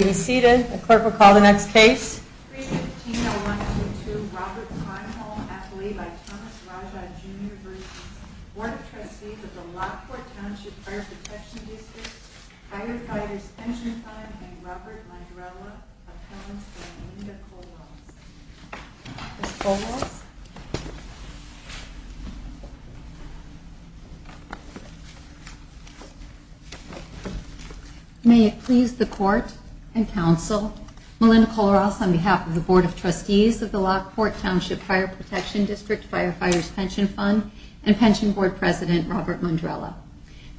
and Robert Landrella, appellants, and Linda Kowalski. Ms. Kowalski? May it please the Court and Council, Melinda Kollross on behalf of the Board of Trustees of the Lockport Township Fire Protection District Firefighters' Pension Fund and Pension Board President Robert Landrella.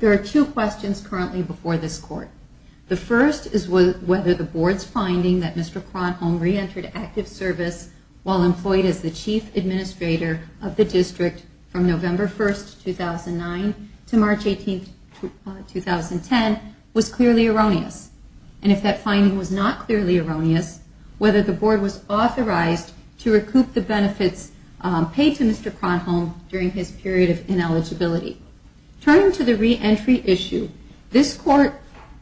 There are two questions currently before this Court. The first is whether the Board's finding that Mr. Cronholm re-entered active service while employed as the Chief Administrator of the District from November 1, 2009 to March 18, 2010 was clearly erroneous. And if that finding was not clearly erroneous, whether the Board was authorized to recoup the benefits paid to Mr. Cronholm during his period of ineligibility. Turning to the reentry issue, this Court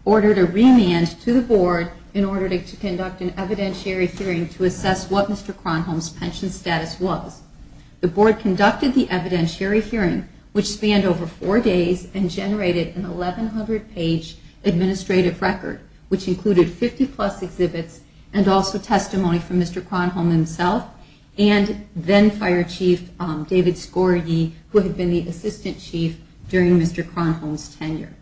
ordered a remand to the Board in order to conduct an evidentiary hearing to assess what Mr. Cronholm's pension status was. The Board conducted the evidentiary hearing, which spanned over four days and generated an 1,100-page administrative record, which included 50-plus exhibits and also testimony from Mr. Cronholm himself and then-Fire Chief David Skorje, who had been the Assistant Chief during Mr. Cronholm's tenure.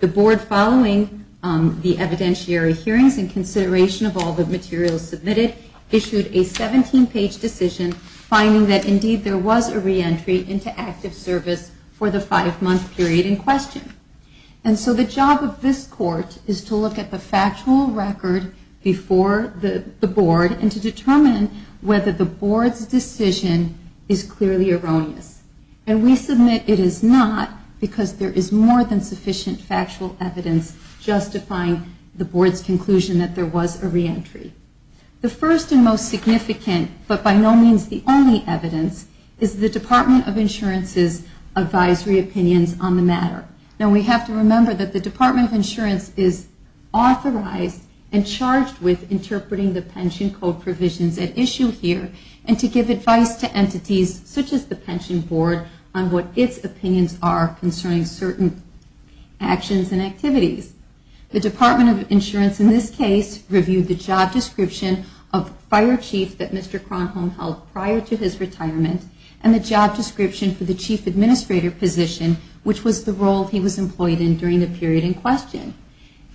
The Board, following the evidentiary hearings and consideration of all the materials submitted, issued a 17-page decision finding that indeed there was a reentry into active service for the five-month period in question. And so the job of this Court is to look at the factual record before the Board and to determine whether the Board's decision is clearly erroneous. And we submit it is not because there is more than sufficient factual evidence justifying the Board's conclusion that there was a reentry. The first and most significant, but by no means the only evidence, is the Department of Insurance's advisory opinions on the matter. Now, we have to remember that the Department of Insurance is authorized and charged with interpreting the pension code provisions at issue here and to give advice to entities such as the Pension Board on what its opinions are concerning certain actions and activities. The Department of Insurance, in this case, reviewed the job description of Fire Chief that Mr. Cronholm held prior to his retirement and the job description for the Chief Administrator position, which was the role he was employed in during the period in question.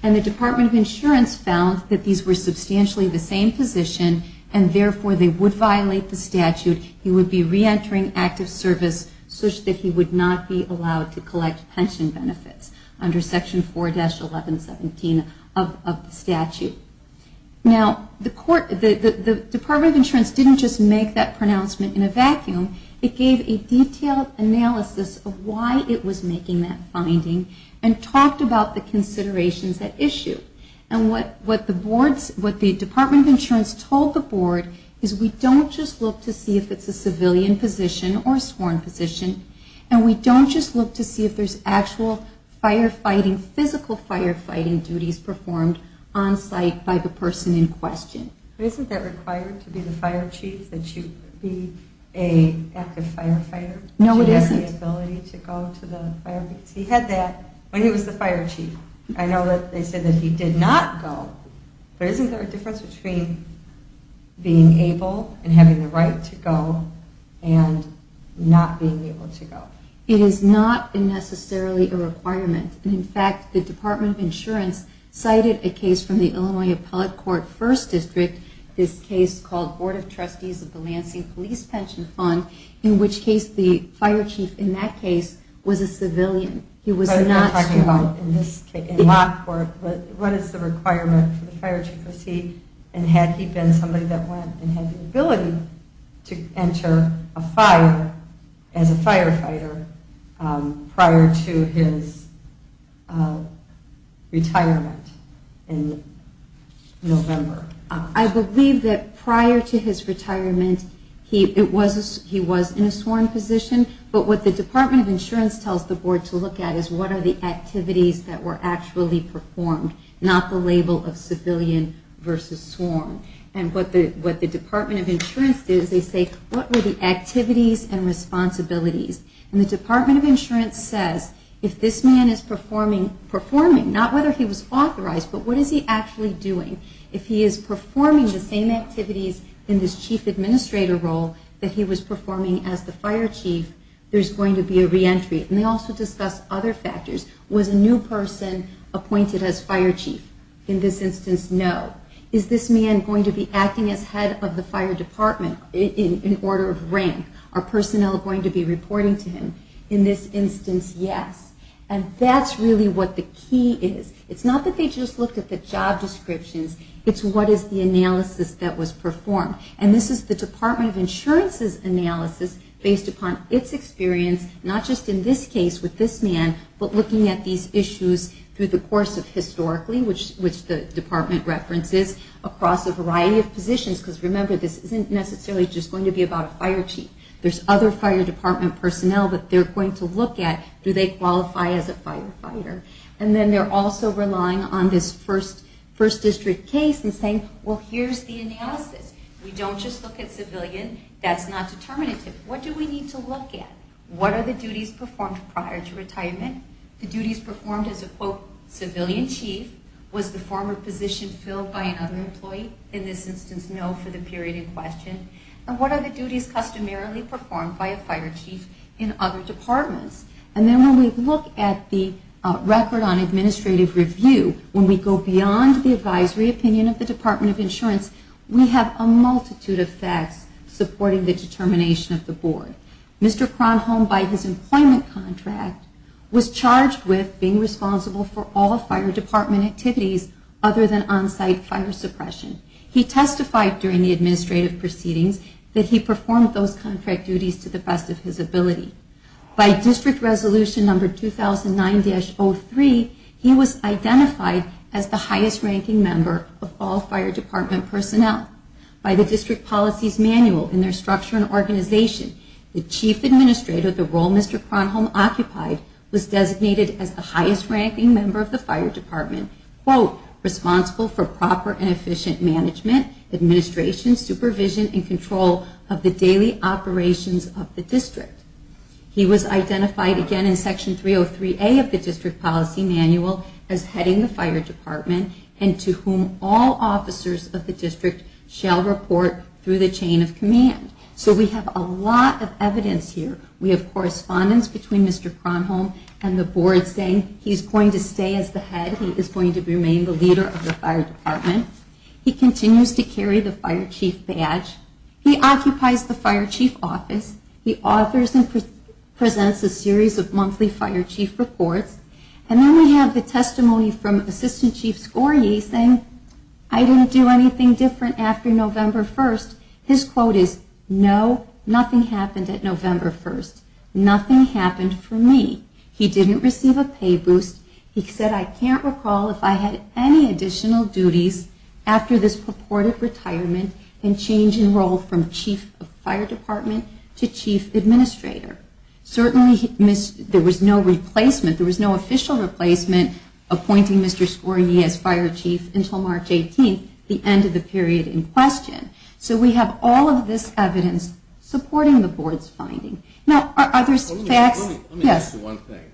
And the Department of Insurance found that these were substantially the same position and therefore they would violate the statute. He would be reentering active service such that he would not be allowed to collect pension benefits under Section 4-1117 of the statute. Now, the Department of Insurance didn't just make that pronouncement in a vacuum. It gave a detailed analysis of why it was making that finding and talked about the considerations at issue. And what the Department of Insurance told the Board is we don't just look to see if it's a civilian position or sworn position and we don't just look to see if there's actual firefighting, physical firefighting duties performed on site by the person in question. Isn't that required to be the Fire Chief, that you be an active firefighter? No, it isn't. He had that when he was the Fire Chief. I know that they said that he did not go, but isn't there a difference between being able and having the right to go and not being able to go? It is not necessarily a requirement. In fact, the Department of Insurance cited a case from the Illinois Appellate Court First District, this case called Board of Trustees of the Lansing Police Pension Fund, in which case the Fire Chief in that case was a civilian. He was not sworn. What is the requirement for the Fire Chief? Was he and had he been somebody that went and had the ability to enter a fire as a firefighter prior to his retirement in November? I believe that prior to his retirement he was in a sworn position, but what the Department of Insurance tells the Board to look at is what are the activities that were actually performed, not the label of civilian versus sworn. And what the Department of Insurance did is they say, what were the activities and responsibilities? And the Department of Insurance says, if this man is performing, not whether he was authorized, but what is he actually doing? If he is performing the same activities in this Chief Administrator role that he was performing as the Fire Chief, there's going to be a reentry. And they also discuss other factors. Was a new person appointed as Fire Chief? In this instance, no. Is this man going to be acting as head of the fire department in order of rank? Are personnel going to be reporting to him? In this instance, yes. And that's really what the key is. It's not that they just looked at the job descriptions. It's what is the analysis that was performed. And this is the Department of Insurance's analysis based upon its experience, not just in this case with this man, but looking at these issues through the course of historically, which the department references, across a variety of positions. Because remember, this isn't necessarily just going to be about a fire chief. There's other fire department personnel that they're going to look at. Do they qualify as a firefighter? And then they're also relying on this first district case and saying, well, here's the analysis. We don't just look at civilian. That's not determinative. What do we need to look at? What are the duties performed prior to retirement? The duties performed as a, quote, civilian chief. Was the former position filled by another employee? In this instance, no, for the period in question. And what are the duties customarily performed by a fire chief in other departments? And then when we look at the record on administrative review, when we go beyond the advisory opinion of the Department of Insurance, we have a multitude of facts supporting the determination of the board. Mr. Kronholm, by his employment contract, was charged with being responsible for all fire department activities other than on-site fire suppression. He testified during the administrative proceedings that he performed those contract duties to the best of his ability. By district resolution number 2009-03, he was identified as the highest ranking member of all fire department personnel. By the district policies manual in their structure and organization, the chief administrator, the role Mr. Kronholm occupied, was designated as the highest ranking member of the fire department, quote, responsible for proper and efficient management, administration, supervision, and control of the daily operations of the district. He was identified again in section 303A of the district policy manual as heading the fire department and to whom all officers of the district shall report through the chain of command. So we have a lot of evidence here. We have correspondence between Mr. Kronholm and the board saying he's going to stay as the head, he is going to remain the leader of the fire department. He continues to carry the fire chief badge. He occupies the fire chief office. He authors and presents a series of monthly fire chief reports. And then we have the testimony from Assistant Chief Skorje saying, I didn't do anything different after November 1st. His quote is, no, nothing happened at November 1st. Nothing happened for me. He didn't receive a pay boost. He said, I can't recall if I had any additional duties. After this purported retirement and change in role from chief of fire department to chief administrator. Certainly there was no replacement, there was no official replacement appointing Mr. Skorje as fire chief until March 18th, the end of the period in question. So we have all of this evidence supporting the board's finding. Let me ask you one thing.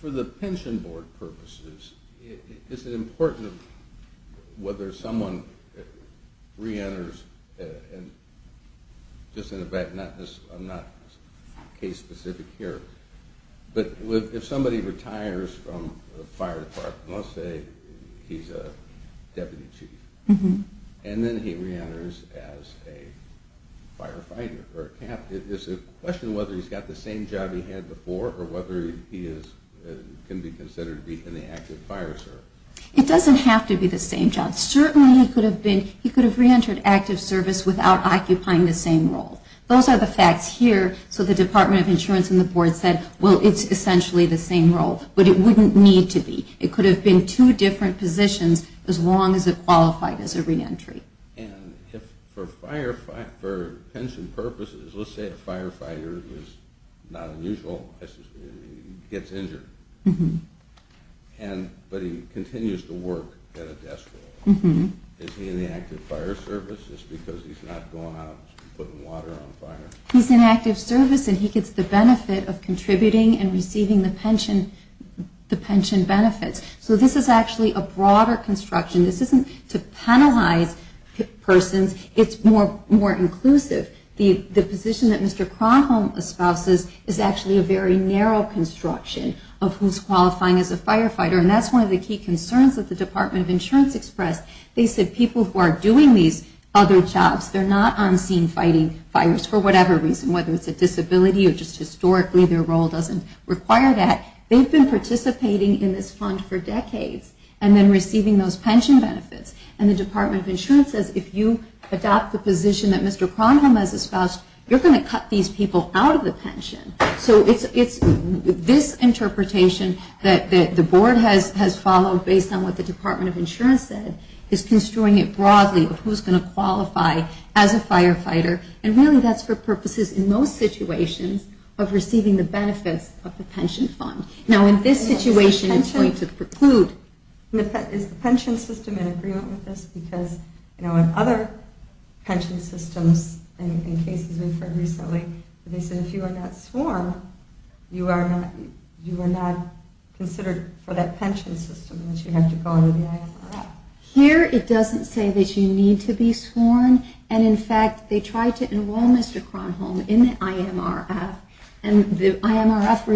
For the pension board purposes, is it important whether someone re-enters, just in the back, I'm not case specific here, but if somebody retires from the fire department, let's say he's a deputy chief, and then he re-enters as a firefighter or a captain. It's a question of whether he's got the same job he had before or whether he can be considered to be in the active fire service. It doesn't have to be the same job. Certainly he could have re-entered active service without occupying the same role. Those are the facts here. So the Department of Insurance and the board said, well, it's essentially the same role. But it wouldn't need to be. It could have been two different positions as long as it qualified as a re-entry. And for pension purposes, let's say a firefighter is not unusual. He gets injured. But he continues to work at a desk role. Is he in the active fire service just because he's not going out putting water on fire? He's in active service and he gets the benefit of contributing and receiving the pension benefits. So this is actually a broader construction. This isn't to penalize persons. It's more inclusive. The position that Mr. Kronholm espouses is actually a very narrow construction of who's qualifying as a firefighter. And that's one of the key concerns that the Department of Insurance expressed. They said people who are doing these other jobs, they're not on scene fighting fires for whatever reason, whether it's a disability or just historically their role doesn't require that. They've been participating in this fund for decades and then receiving those pension benefits. And the Department of Insurance says if you adopt the position that Mr. Kronholm has espoused, you're going to cut these people out of the pension. So it's this interpretation that the board has followed based on what the Department of Insurance said is construing it broadly of who's going to qualify as a firefighter. And really that's for purposes in most situations of receiving the benefits of the pension fund. Now in this situation it's going to preclude. Is the pension system in agreement with this? Because in other pension systems and cases we've heard recently, they said if you are not sworn, you are not considered for that pension system and that you have to go under the IMRF. Here it doesn't say that you need to be sworn. And in fact, they tried to enroll Mr. Kronholm in the IMRF and the IMRF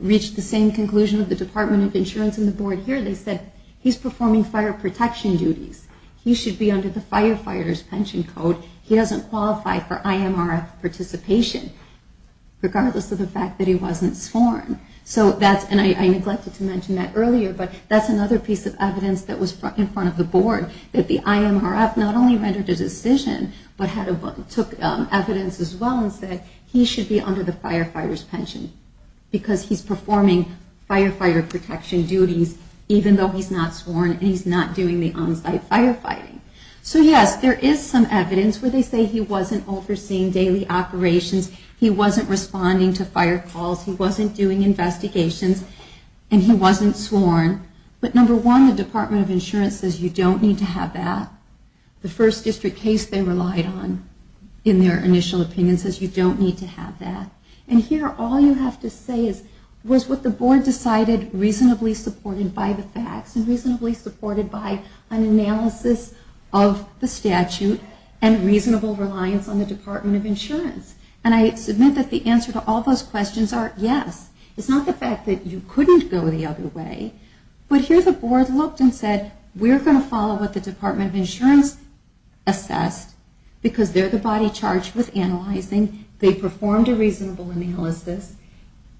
reached the same conclusion of the Department of Insurance and the board here. They said he's performing fire protection duties. He should be under the firefighters pension code. He doesn't qualify for IMRF participation regardless of the fact that he wasn't sworn. So that's, and I neglected to mention that earlier, but that's another piece of evidence that was in front of the board that the IMRF not only rendered a decision, but took evidence as well and said he should be under the firefighters pension because he's performing firefighter protection duties even though he's not sworn and he's not doing the onsite firefighting. So yes, there is some evidence where they say he wasn't overseeing daily operations, he wasn't responding to fire calls, he wasn't doing investigations, and he wasn't sworn. But number one, the Department of Insurance says you don't need to have that. The first district case they relied on in their initial opinion says you don't need to have that. And here all you have to say was what the board decided reasonably supported by the facts and reasonably supported by an analysis of the statute and reasonable reliance on the Department of Insurance. And I submit that the answer to all those questions are yes. It's not the fact that you couldn't go the other way, but here the board looked and said we're going to follow what the Department of Insurance assessed because they're the body charged with analyzing, they performed a reasonable analysis,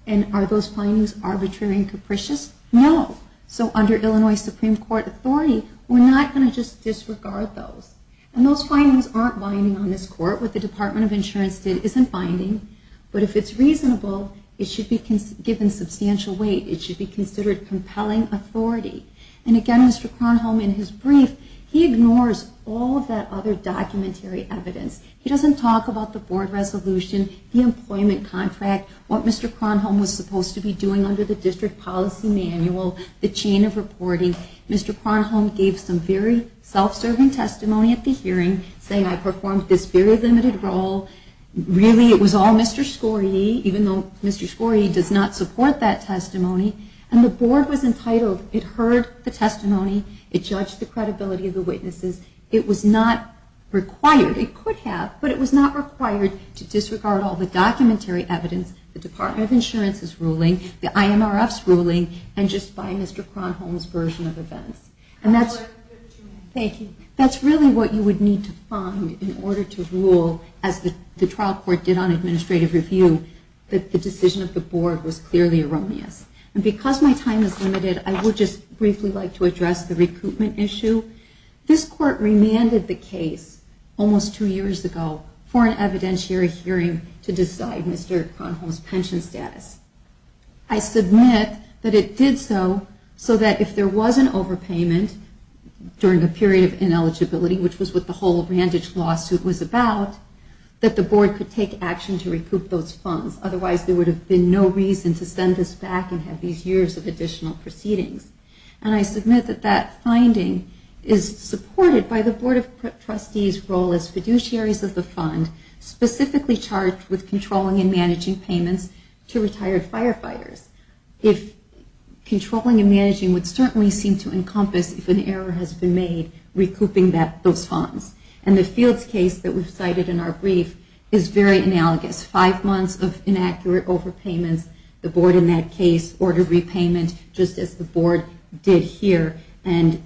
and are those findings arbitrary and capricious? No. So under Illinois Supreme Court authority, we're not going to just disregard those. And those findings aren't binding on this court. What the Department of Insurance did isn't binding, but if it's reasonable, it should be given substantial weight. It should be considered compelling authority. And again, Mr. Kronholm, in his brief, he ignores all of that other documentary evidence. He doesn't talk about the board resolution, the employment contract, what Mr. Kronholm was supposed to be doing under the district policy manual, the chain of reporting. Mr. Kronholm gave some very self-serving testimony at the hearing, saying I performed this very limited role. Really it was all Mr. Skorje, even though Mr. Skorje does not support that testimony. And the board was entitled, it hurt the board. It hurt the testimony. It judged the credibility of the witnesses. It was not required, it could have, but it was not required to disregard all the documentary evidence, the Department of Insurance's ruling, the IMRF's ruling, and just by Mr. Kronholm's version of events. And that's really what you would need to find in order to rule, as the trial court did on administrative review, that the decision of the board was clearly erroneous. And because my time is limited, I would just briefly like to address the recoupment issue. This court remanded the case almost two years ago for an evidentiary hearing to decide Mr. Kronholm's pension status. I submit that it did so so that if there was an overpayment during a period of ineligibility, which was what the whole Randage lawsuit was about, that the board could take action to recoup those funds. Otherwise there would have been no reason to send this back and have these years of additional proceedings. And I submit that that finding is supported by the board of trustees' role as fiduciaries of the fund, specifically charged with controlling and managing payments to retired firefighters. If controlling and managing would certainly seem to encompass if an error has been made, recouping those funds. And the Fields case that we've cited in our brief is very analogous. Five months of inaccurate overpayments. The board in that case ordered repayment, just as the board did here. And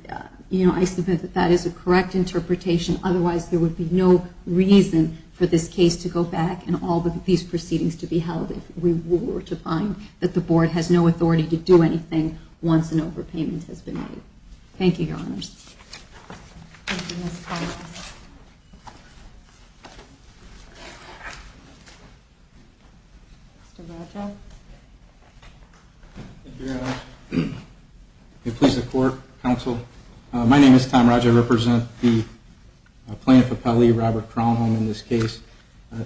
I submit that that is a correct interpretation. Otherwise there would be no reason for this case to go back and all of these proceedings to be held if we were to find that the board has no authority to do anything once an overpayment has been made. Thank you, Your Honors. Thank you, Ms. Thomas. Mr. Roger. My name is Tom Roger. I represent the plaintiff appellee, Robert Kronholm, in this case. A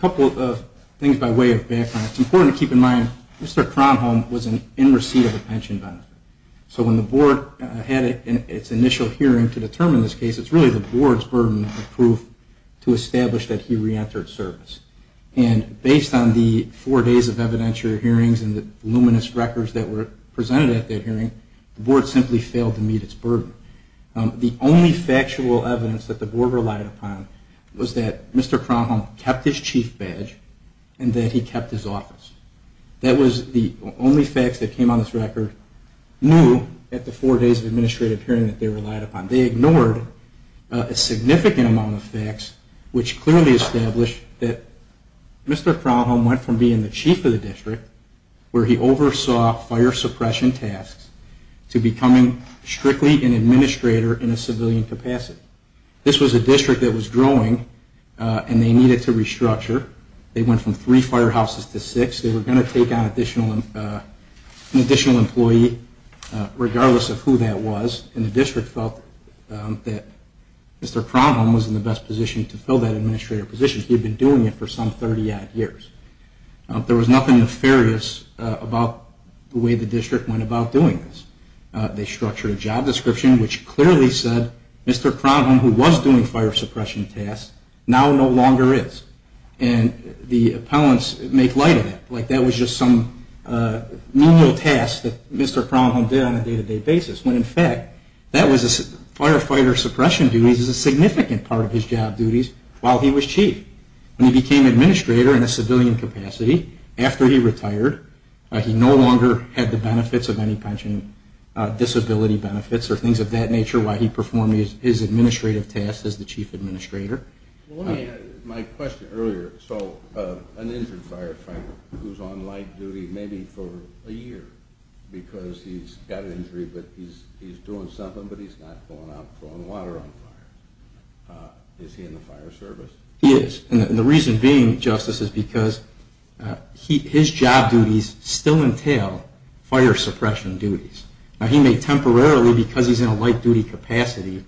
couple of things by way of background. It's important to keep in mind, Mr. Kronholm was in receipt of a pension benefit. So when the board had its initial hearing to determine this case, it's really the board's burden of proof to establish that he reentered service. And based on the four days of evidentiary hearings and the voluminous records that were presented at that hearing, the board simply failed to meet its burden. The only factual evidence that the board relied upon was that Mr. Kronholm kept his chief badge and that he kept his office. That was the only facts that came on this record at the four days of administrative hearing that they relied upon. They ignored a significant amount of facts, which clearly established that Mr. Kronholm went from being the chief of the district, where he oversaw fire suppression tasks, to becoming strictly an administrator in a civilian capacity. This was a district that was growing, and they needed to restructure. They went from three firehouses to six. They were going to take on an additional employee, regardless of who that was. And the district felt that Mr. Kronholm was in the best position to fill that administrator position. He had been doing it for some 30-odd years. There was nothing nefarious about the way the district went about doing this. They structured a job description, which clearly said Mr. Kronholm, who was doing fire suppression tasks, now no longer is. And the appellants make light of it, like that was just some menial task that Mr. Kronholm did on a day-to-day basis. When, in fact, firefighter suppression duties is a significant part of his job duties while he was chief. When he became administrator in a civilian capacity, after he retired, he no longer had the benefits of any pension disability benefits or things of that nature while he performed his administrative tasks as the chief administrator. My question earlier, so an injured firefighter who's on light duty maybe for a year because he's got an injury, but he's doing something, but he's not going out throwing water on fire. Is he in the fire service? He is. And the reason being, Justice, is because his job duties still entail fire suppression duties. Now he may temporarily, because he's in a light duty capacity,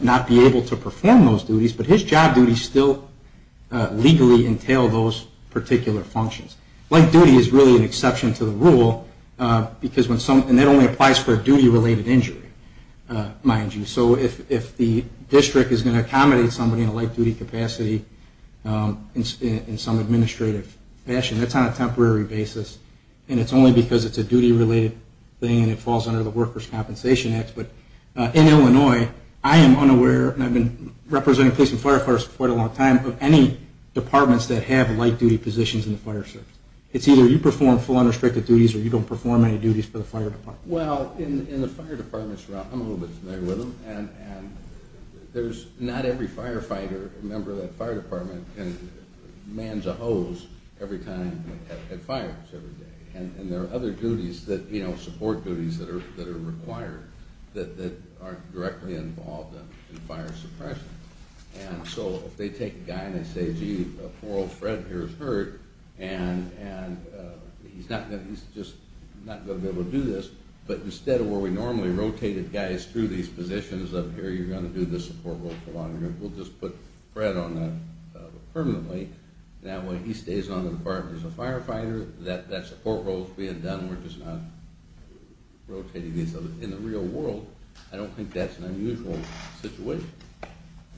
not be able to perform those duties, but his job duties still legally entail those particular functions. Light duty is really an exception to the rule, and that only applies for a duty-related injury, mind you. So if the district is going to accommodate somebody in a light duty capacity in some administrative fashion, that's on a temporary basis, and it's only because it's a duty-related thing and it falls under the Workers' Compensation Act. But in Illinois, I am unaware, and I've been representing police and firefighters for quite a long time, of any departments that have light duty positions in the fire service. It's either you perform full unrestricted duties or you don't perform any duties for the fire department. Well, in the fire department, I'm a little bit familiar with them, and there's not every firefighter, member of that fire department, can man the hose every time it fires every day. And there are other duties that, you know, support duties that are required that aren't directly involved in fire suppression. And so if they take a guy and they say, gee, a poor old Fred here is hurt, and he's just not going to be able to do this, but instead of where we normally rotated guys through these positions up here, you're going to do the support roles along here, we'll just put Fred on that permanently. That way he stays on the department as a firefighter, that support role is being done, we're just not rotating these in the real world. I don't think that's an unusual situation.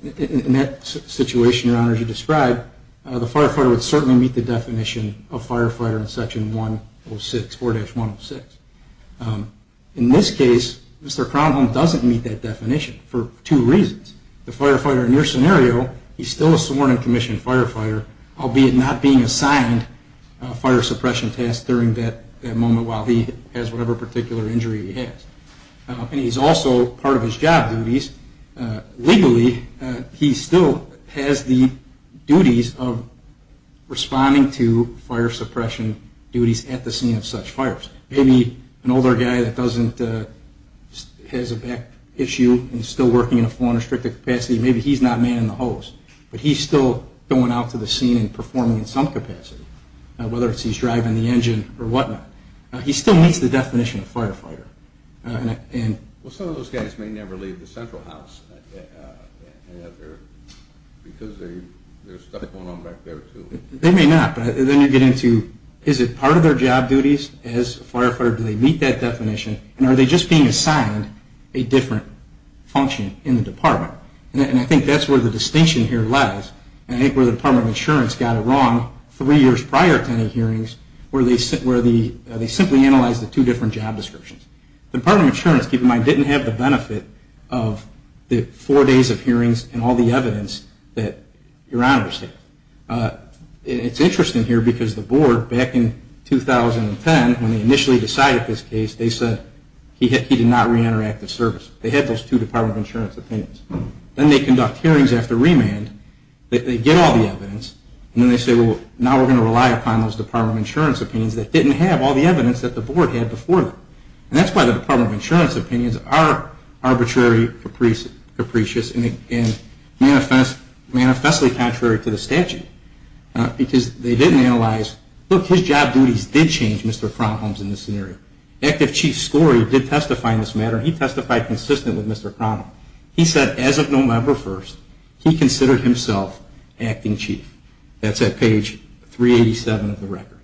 In that situation, Your Honor, as you described, the firefighter would certainly meet the definition of firefighter in Section 106, 4-106. In this case, Mr. Cromwell doesn't meet that definition for two reasons. The firefighter in your scenario, he's still a sworn and commissioned firefighter, albeit not being assigned fire suppression tasks during that moment while he has whatever particular injury he has. And he's also, part of his job duties, legally, he still has the duties of responding to fire suppression duties at the scene of such fires. Maybe an older guy that doesn't, has a back issue and is still working in a foreign restricted capacity, maybe he's not manning the hose, but he's still going out to the scene and performing in some capacity, whether it's he's driving the engine or whatnot. He still meets the definition of firefighter. Well, some of those guys may never leave the central house because there's stuff going on back there too. They may not, but then you get into, is it part of their job duties as a firefighter, do they meet that definition, and are they just being assigned a different function in the department? And I think that's where the distinction here lies, and I think where the Department of Insurance got it wrong three years prior to any hearings, where they simply analyzed the two different job descriptions. The Department of Insurance, keep in mind, didn't have the benefit of the four days of hearings and all the evidence that Your Honor received. It's interesting here because the board, back in 2010, when they initially decided this case, they said he did not reenter active service. They had those two Department of Insurance opinions. Then they conduct hearings after remand. They get all the evidence, and then they say, well, now we're going to rely upon those Department of Insurance opinions that didn't have all the evidence that the board had before them. And that's why the Department of Insurance opinions are arbitrary, capricious, and manifestly contrary to the statute. Because they didn't analyze, look, his job duties did change Mr. Kronholm's in this scenario. Active Chief Scori did testify in this matter, and he testified consistently with Mr. Kronholm. He said as of November 1st, he considered himself acting chief. That's at page 387 of the record.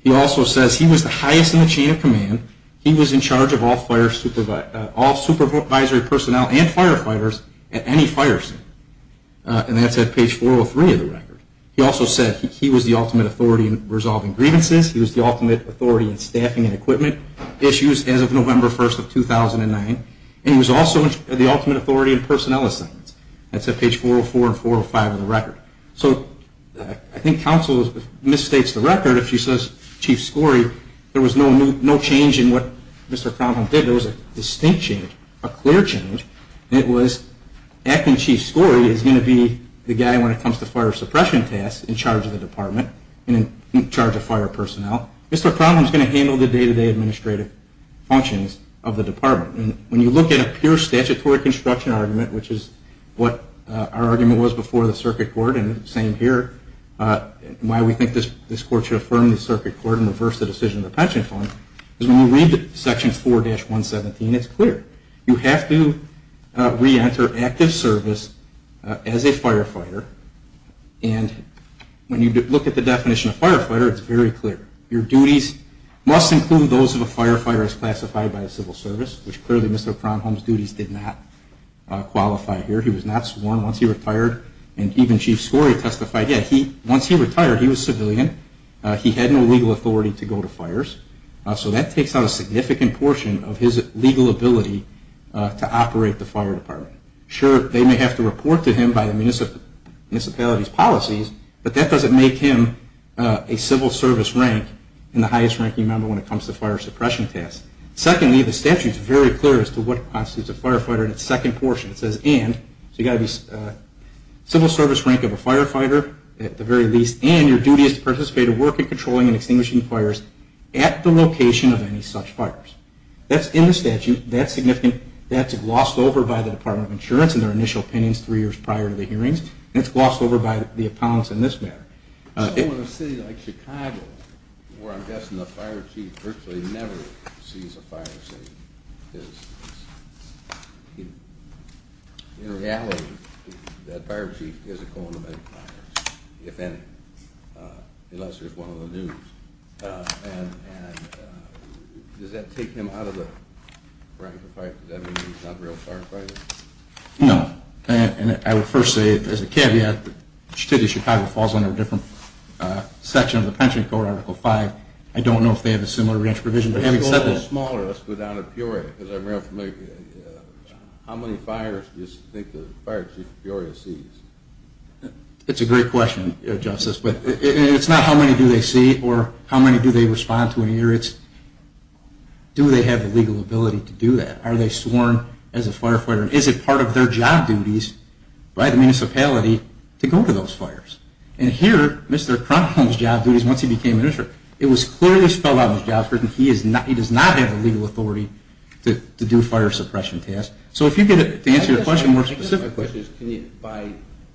He also says he was the highest in the chain of command. He was in charge of all supervisory personnel and firefighters at any fire scene. And that's at page 403 of the record. He also said he was the ultimate authority in resolving grievances. He was the ultimate authority in staffing and equipment issues as of November 1st of 2009. And he was also the ultimate authority in personnel assignments. That's at page 404 and 405 of the record. So I think counsel misstates the record if she says, Chief Scori, there was no change in what Mr. Kronholm did. There was a distinct change, a clear change. It was acting Chief Scori is going to be the guy when it comes to fire suppression tasks in charge of the department and in charge of fire personnel. Mr. Kronholm is going to handle the day-to-day administrative functions of the department. And when you look at a pure statutory construction argument, which is what our argument was before the circuit court and same here, why we think this court should affirm the circuit court and reverse the decision of the pension fund, is when you read section 4-117, it's clear. You have to reenter active service as a firefighter. And when you look at the definition of firefighter, it's very clear. Your duties must include those of a firefighter as classified by the civil service, which clearly Mr. Kronholm's duties did not qualify here. He was not sworn once he retired. And even Chief Scori testified, yeah, once he retired, he was civilian. He had no legal authority to go to fires. So that takes out a significant portion of his legal ability to operate the fire department. Sure, they may have to report to him by the municipality's policies, but that doesn't make him a civil service rank and the highest ranking member when it comes to fire suppression tasks. Secondly, the statute is very clear as to what constitutes a firefighter in its second portion. It says civil service rank of a firefighter at the very least and your duty is to participate or work in controlling and extinguishing fires at the location of any such fires. That's in the statute. That's significant. That's glossed over by the Department of Insurance in their initial opinions three years prior to the hearings. And it's glossed over by the appellants in this matter. So in a city like Chicago, where I'm guessing the fire chief virtually never sees a fire, in reality, that fire chief isn't going to make fires, if any, unless there's one on the news. And does that take him out of the rank of a firefighter? Does that mean he's not a real firefighter? No, and I would first say as a caveat, the city of Chicago falls under a different section of the pension code, Article V. I don't know if they have a similar grant provision. Let's go down to Peoria. How many fires do you think the fire chief of Peoria sees? It's a great question, Justice, but it's not how many do they see or how many do they respond to in a year. It's do they have the legal ability to do that? Are they sworn as a firefighter? Is it part of their job duties by the municipality to go to those fires? And here, Mr. Crumholm's job duties, once he became minister, it was clearly spelled out in his job description. He does not have the legal authority to do fire suppression tasks. So if you could answer the question more specifically. By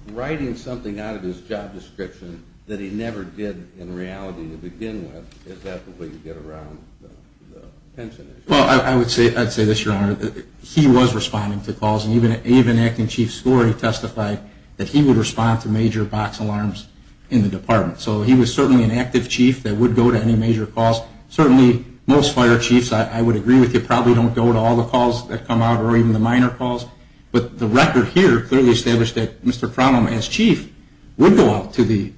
writing something out of his job description that he never did in reality to begin with, is that the way you get around the pension issue? Well, I would say this, Your Honor. He was responding to calls, and even Acting Chief Skorey testified that he would respond to major box alarms in the department. So he was certainly an active chief that would go to any major calls. Certainly most fire chiefs, I would agree with you, probably don't go to all the calls that come out or even the minor calls. But the record here clearly established that Mr. Crumholm, as chief, would go out to the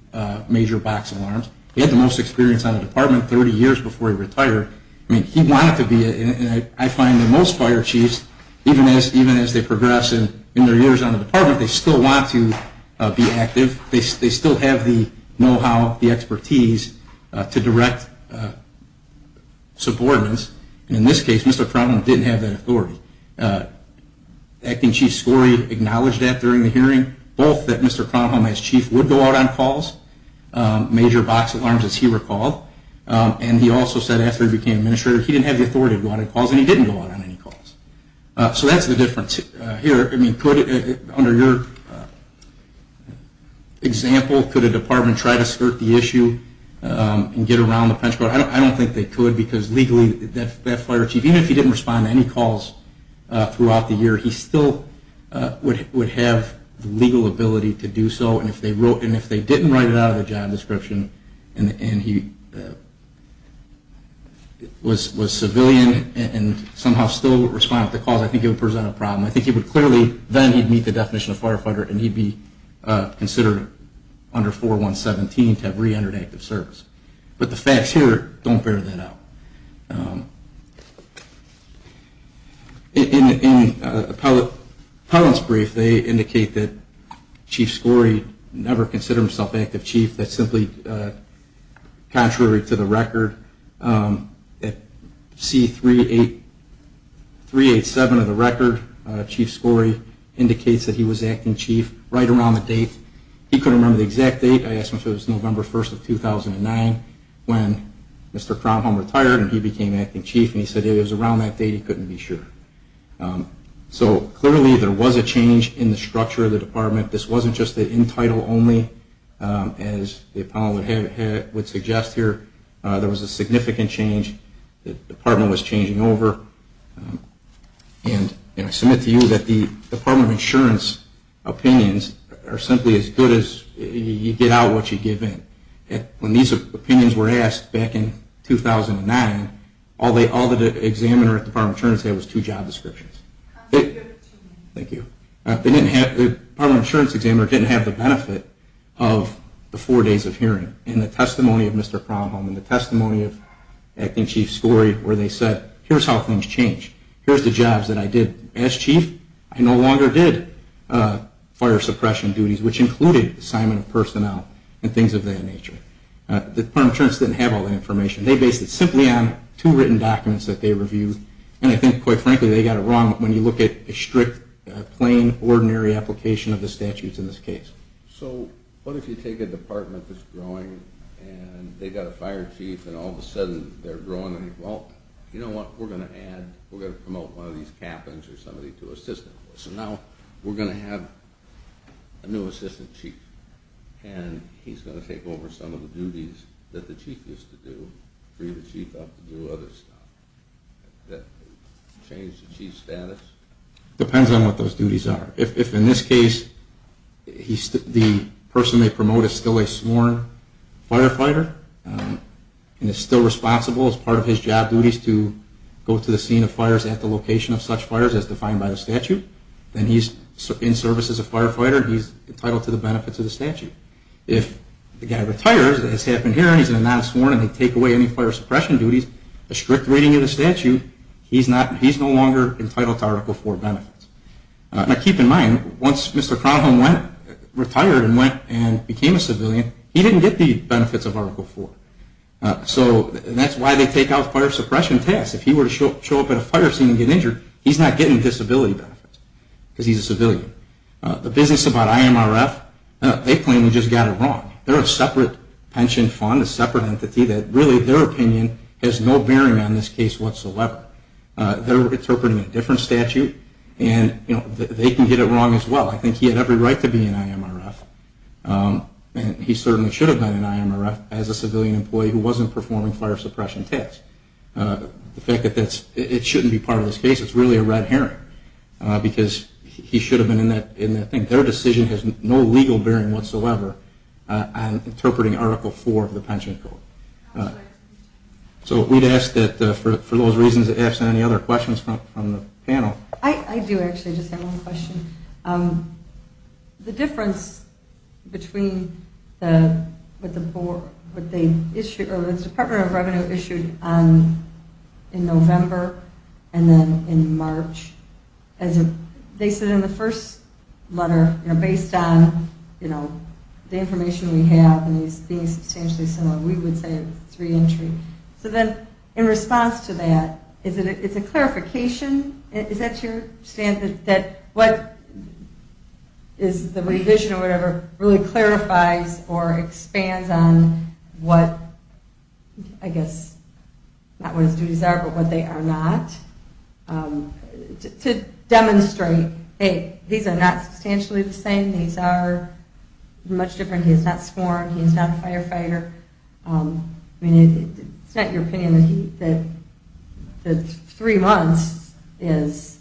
major box alarms. He had the most experience on the department 30 years before he retired. I mean, he wanted to be, and I find that most fire chiefs, even as they progress in their years on the department, they still want to be active. They still have the know-how, the expertise to direct subordinates. And in this case, Mr. Crumholm didn't have that authority. Acting Chief Skorey acknowledged that during the hearing, both that Mr. Crumholm, as chief, would go out on calls, major box alarms, as he recalled. And he also said after he became administrator, he didn't have the authority to go out on calls, and he didn't go out on any calls. So that's the difference here. Under your example, could a department try to skirt the issue and get around the penalty? I don't think they could because legally that fire chief, even if he didn't respond to any calls throughout the year, he still would have the legal ability to do so. And if they didn't write it out of the job description, and he was civilian and somehow still responded to calls, I think it would present a problem. I think he would clearly then meet the definition of firefighter, and he'd be considered under 4117 to have reentered active service. But the facts here don't bear that out. In Appellant's brief, they indicate that Chief Skorey never considered himself active chief. That's simply contrary to the record. At C387 of the record, Chief Skorey indicates that he was acting chief right around the date. He couldn't remember the exact date. I asked him if it was November 1st of 2009 when Mr. Kromholm retired and he became acting chief, and he said it was around that date. He couldn't be sure. So clearly there was a change in the structure of the department. This wasn't just the end title only, as the appellant would suggest here. There was a significant change. The department was changing over. And I submit to you that the Department of Insurance opinions are simply as good as you get out what you give in. When these opinions were asked back in 2009, all the examiner at the Department of Insurance had was two job descriptions. Thank you. The Department of Insurance examiner didn't have the benefit of the four days of hearing and the testimony of Mr. Kromholm and the testimony of acting chief Skorey where they said, here's how things change. Here's the jobs that I did as chief. I no longer did fire suppression duties, which included assignment of personnel and things of that nature. The Department of Insurance didn't have all that information. They based it simply on two written documents that they reviewed. And I think, quite frankly, they got it wrong when you look at a strict, plain, ordinary application of the statutes in this case. So what if you take a department that's growing and they've got a fire chief and all of a sudden they're growing and, well, you know what, we're going to add, we're going to promote one of these captains or somebody to assistant. So now we're going to have a new assistant chief. And he's going to take over some of the duties that the chief used to do, free the chief up to do other stuff, change the chief's status. Depends on what those duties are. If in this case the person they promote is still a sworn firefighter and is still responsible as part of his job duties to go to the scene of fires at the location of such fires as defined by the statute, then he's in service as a firefighter and he's entitled to the benefits of the statute. If the guy retires, as has happened here, and he's a non-sworn and they take away any fire suppression duties, a strict reading of the statute, he's no longer entitled to Article IV benefits. Now keep in mind, once Mr. Crownholm retired and went and became a civilian, he didn't get the benefits of Article IV. So that's why they take out fire suppression tasks. If he were to show up at a fire scene and get injured, he's not getting disability benefits because he's a civilian. The business about IMRF, they claim he just got it wrong. They're a separate pension fund, a separate entity that really, their opinion has no bearing on this case whatsoever. They're interpreting a different statute and they can get it wrong as well. I think he had every right to be an IMRF and he certainly should have been an IMRF as a civilian employee who wasn't performing fire suppression tasks. The fact that it shouldn't be part of this case, it's really a red herring because he should have been in that thing. Their decision has no legal bearing whatsoever on interpreting Article IV of the pension code. So we'd ask that for those reasons, ask any other questions from the panel. I do actually just have one question. The difference between what the Department of Revenue issued in November and then in March, they said in the first letter, based on the information we have and these being substantially similar, we would say it's re-entry. So then in response to that, is it a clarification? Is that to your standard that what is the revision or whatever really clarifies or expands on what, I guess, not what his duties are, but what they are not? To demonstrate, hey, these are not substantially the same. These are much different. He's not sworn. He's not a firefighter. It's not your opinion that three months is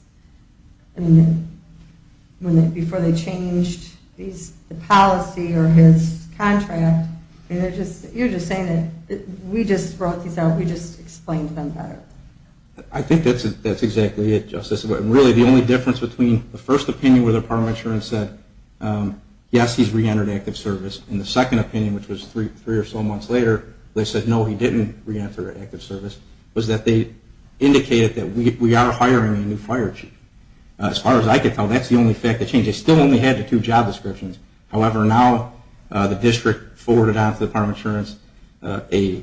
before they changed the policy or his contract. You're just saying that we just wrote these out. We just explained them better. I think that's exactly it, Justice. Really, the only difference between the first opinion where the Department of Insurance said, yes, he's re-entered active service, and the second opinion, which was three or so months later, they said, no, he didn't re-enter active service, was that they indicated that we are hiring a new fire chief. As far as I could tell, that's the only fact that changed. They still only had the two job descriptions. However, now the district forwarded on to the Department of Insurance a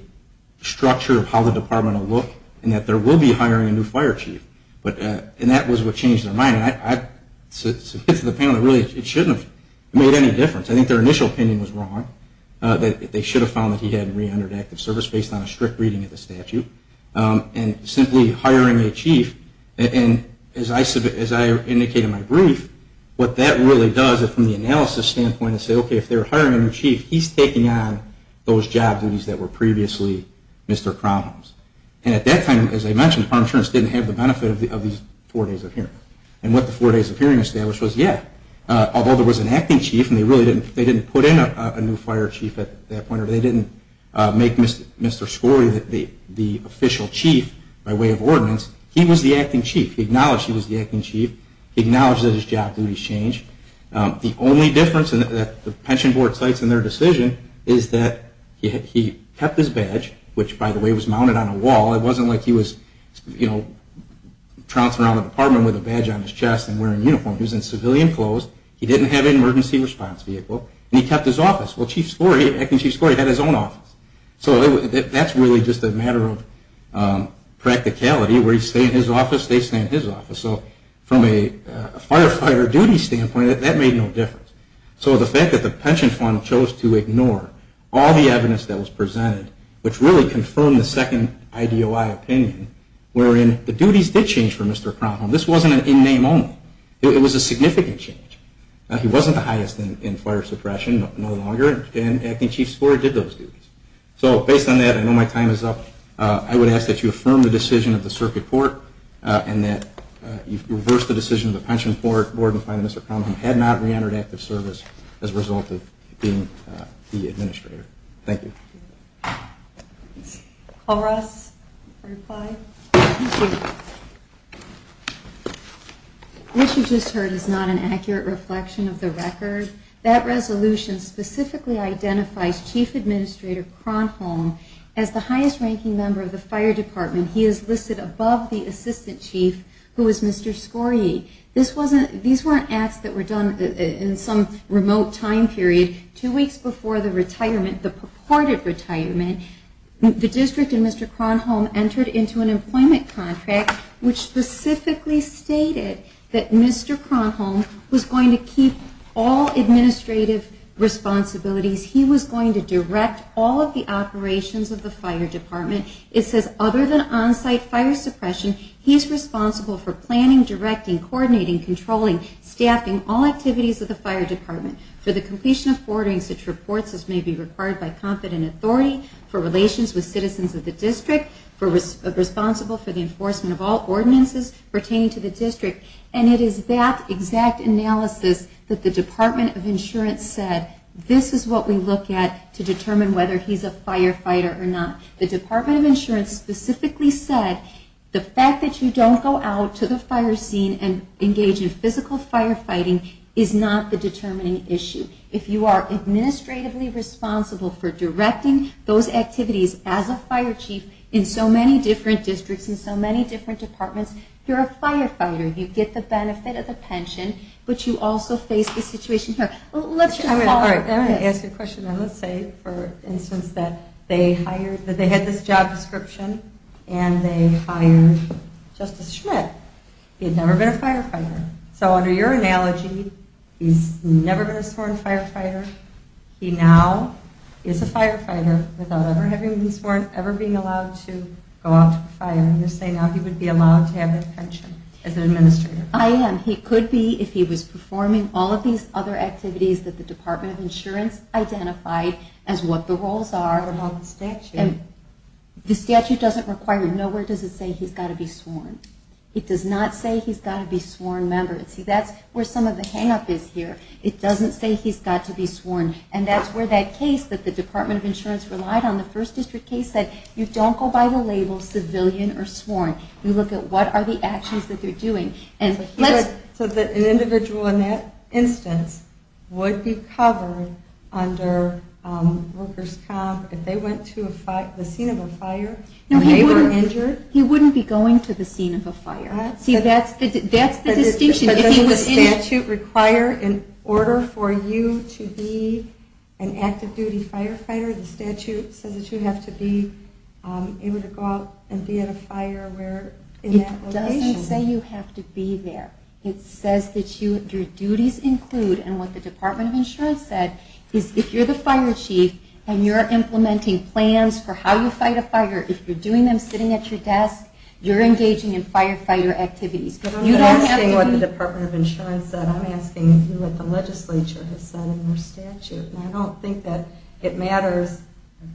structure of how the department will look and that there will be hiring a new fire chief. And that was what changed their mind. I submit to the panel that really it shouldn't have made any difference. I think their initial opinion was wrong, that they should have found that he had re-entered active service based on a strict reading of the statute. And simply hiring a chief, and as I indicated in my brief, what that really does is from the analysis standpoint is say, okay, if they're hiring a new chief, he's taking on those job duties that were previously Mr. Crownholme's. And at that time, as I mentioned, the Department of Insurance didn't have the benefit of these four days of hearing. And what the four days of hearing established was, yeah, although there was an acting chief and they really didn't put in a new fire chief at that point, or they didn't make Mr. Scori the official chief by way of ordinance, he was the acting chief. He acknowledged he was the acting chief. He acknowledged that his job duties changed. The only difference that the pension board cites in their decision is that he kept his badge, which, by the way, was mounted on a wall. It wasn't like he was, you know, trouncing around the department with a badge on his chest and wearing a uniform. He was in civilian clothes. He didn't have an emergency response vehicle. And he kept his office. Well, Chief Scori, acting Chief Scori, had his own office. So that's really just a matter of practicality. Where you stay in his office, they stay in his office. So from a firefighter duty standpoint, that made no difference. So the fact that the pension fund chose to ignore all the evidence that was presented, which really confirmed the second IDOI opinion, wherein the duties did change for Mr. Kronholm. This wasn't an in-name only. It was a significant change. He wasn't the highest in fire suppression, no longer. And acting Chief Scori did those duties. So based on that, I know my time is up. I would ask that you affirm the decision of the circuit court and that you reverse the decision of the pension board and find that Mr. Kronholm had not reentered active service as a result of being the administrator. Thank you. Call Ross for reply. What you just heard is not an accurate reflection of the record. That resolution specifically identifies Chief Administrator Kronholm as the highest-ranking member of the fire department. He is listed above the assistant chief, who is Mr. Scori. These weren't acts that were done in some remote time period. Two weeks before the retirement, the purported retirement, the district and Mr. Kronholm entered into an employment contract, which specifically stated that Mr. Kronholm was going to keep all administrative responsibilities. He was going to direct all of the operations of the fire department. It says, other than on-site fire suppression, he is responsible for planning, directing, coordinating, controlling, staffing all activities of the fire department. For the completion of ordering such reports as may be required by competent authority, for relations with citizens of the district, responsible for the enforcement of all ordinances pertaining to the district. And it is that exact analysis that the Department of Insurance said, this is what we look at to determine whether he's a firefighter or not. The Department of Insurance specifically said the fact that you don't go out to the fire scene and engage in physical firefighting is not the determining issue. If you are administratively responsible for directing those activities as a fire chief in so many different districts and so many different departments, you're a firefighter. You get the benefit of the pension, but you also face the situation here. Let's just follow up. I'm going to ask you a question. Let's say, for instance, that they had this job description and they hired Justice Schmidt. He had never been a firefighter. So under your analogy, he's never been a sworn firefighter. He now is a firefighter without ever having been sworn, ever being allowed to go out to the fire. You're saying now he would be allowed to have a pension as an administrator. I am. He could be if he was performing all of these other activities that the Department of Insurance identified as what the roles are. What about the statute? The statute doesn't require it. Nowhere does it say he's got to be sworn. It does not say he's got to be sworn member. See, that's where some of the hang-up is here. It doesn't say he's got to be sworn. And that's where that case that the Department of Insurance relied on, the first district case, said, you don't go by the label civilian or sworn. You look at what are the actions that they're doing. So an individual in that instance would be covered under workers' comp if they went to the scene of a fire and they were injured? He wouldn't be going to the scene of a fire. See, that's the distinction. But doesn't the statute require in order for you to be an active-duty firefighter, the statute says that you have to be able to go out and be at a fire in that location? It doesn't say you have to be there. It says that your duties include, and what the Department of Insurance said, is if you're the fire chief and you're implementing plans for how you fight a fire, if you're doing them sitting at your desk, you're engaging in firefighter activities. But I'm not asking what the Department of Insurance said. I'm asking what the legislature has said in their statute. And I don't think that it matters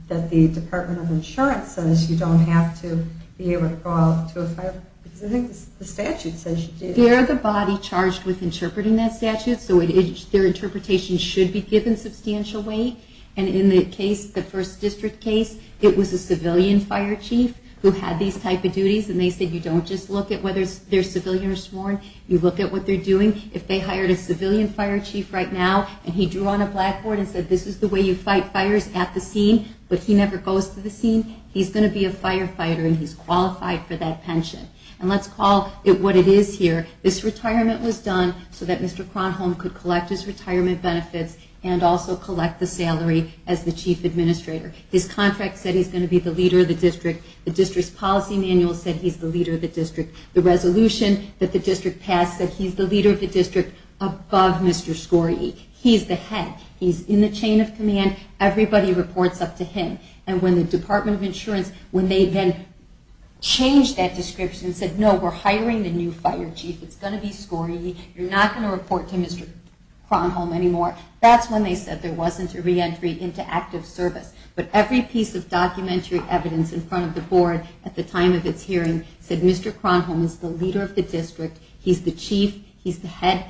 that the Department of Insurance says you don't have to be able to go out to a fire. Because I think the statute says you do. They're the body charged with interpreting that statute, so their interpretation should be given substantial weight. And in the case, the first district case, it was a civilian fire chief who had these type of duties. And they said you don't just look at whether they're civilian or sworn, you look at what they're doing. If they hired a civilian fire chief right now and he drew on a blackboard and said, this is the way you fight fires at the scene, but he never goes to the scene, he's going to be a firefighter and he's qualified for that pension. And let's call it what it is here. This retirement was done so that Mr. Kronholm could collect his retirement benefits and also collect the salary as the chief administrator. His contract said he's going to be the leader of the district. The district's policy manual said he's the leader of the district. The resolution that the district passed said he's the leader of the district above Mr. Scorie. He's the head. He's in the chain of command. Everybody reports up to him. And when the Department of Insurance, when they then changed that description and said, no, we're hiring the new fire chief, it's going to be Scorie, you're not going to report to Mr. Kronholm anymore, that's when they said there wasn't a reentry into active service. But every piece of documentary evidence in front of the board at the time of its hearing said Mr. Kronholm is the leader of the district, he's the chief, he's the head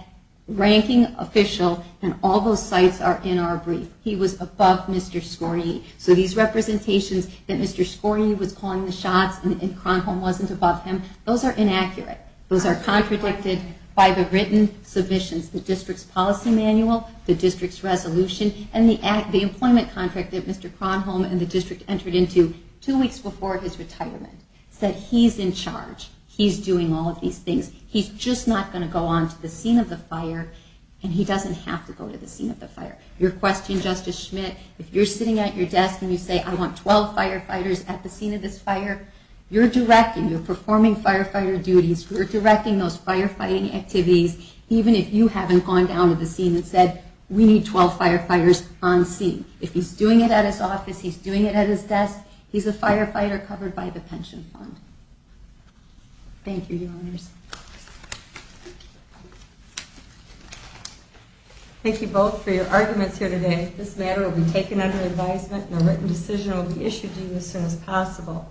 ranking official, and all those sites are in our brief. He was above Mr. Scorie. So these representations that Mr. Scorie was calling the shots and Kronholm wasn't above him, those are inaccurate. Those are contradicted by the written submissions, the district's policy manual, the district's resolution, and the employment contract that Mr. Kronholm and the district entered into two weeks before his retirement said he's in charge. He's doing all of these things. He's just not going to go on to the scene of the fire, and he doesn't have to go to the scene of the fire. Your question, Justice Schmidt, if you're sitting at your desk and you say, I want 12 firefighters at the scene of this fire, you're directing, you're performing firefighter duties, you're directing those firefighting activities, even if you haven't gone down to the scene and said, we need 12 firefighters on scene. If he's doing it at his office, he's doing it at his desk, he's a firefighter covered by the pension fund. Thank you, Your Honors. Thank you both for your arguments here today. This matter will be taken under advisement, and a written decision will be issued to you as soon as possible.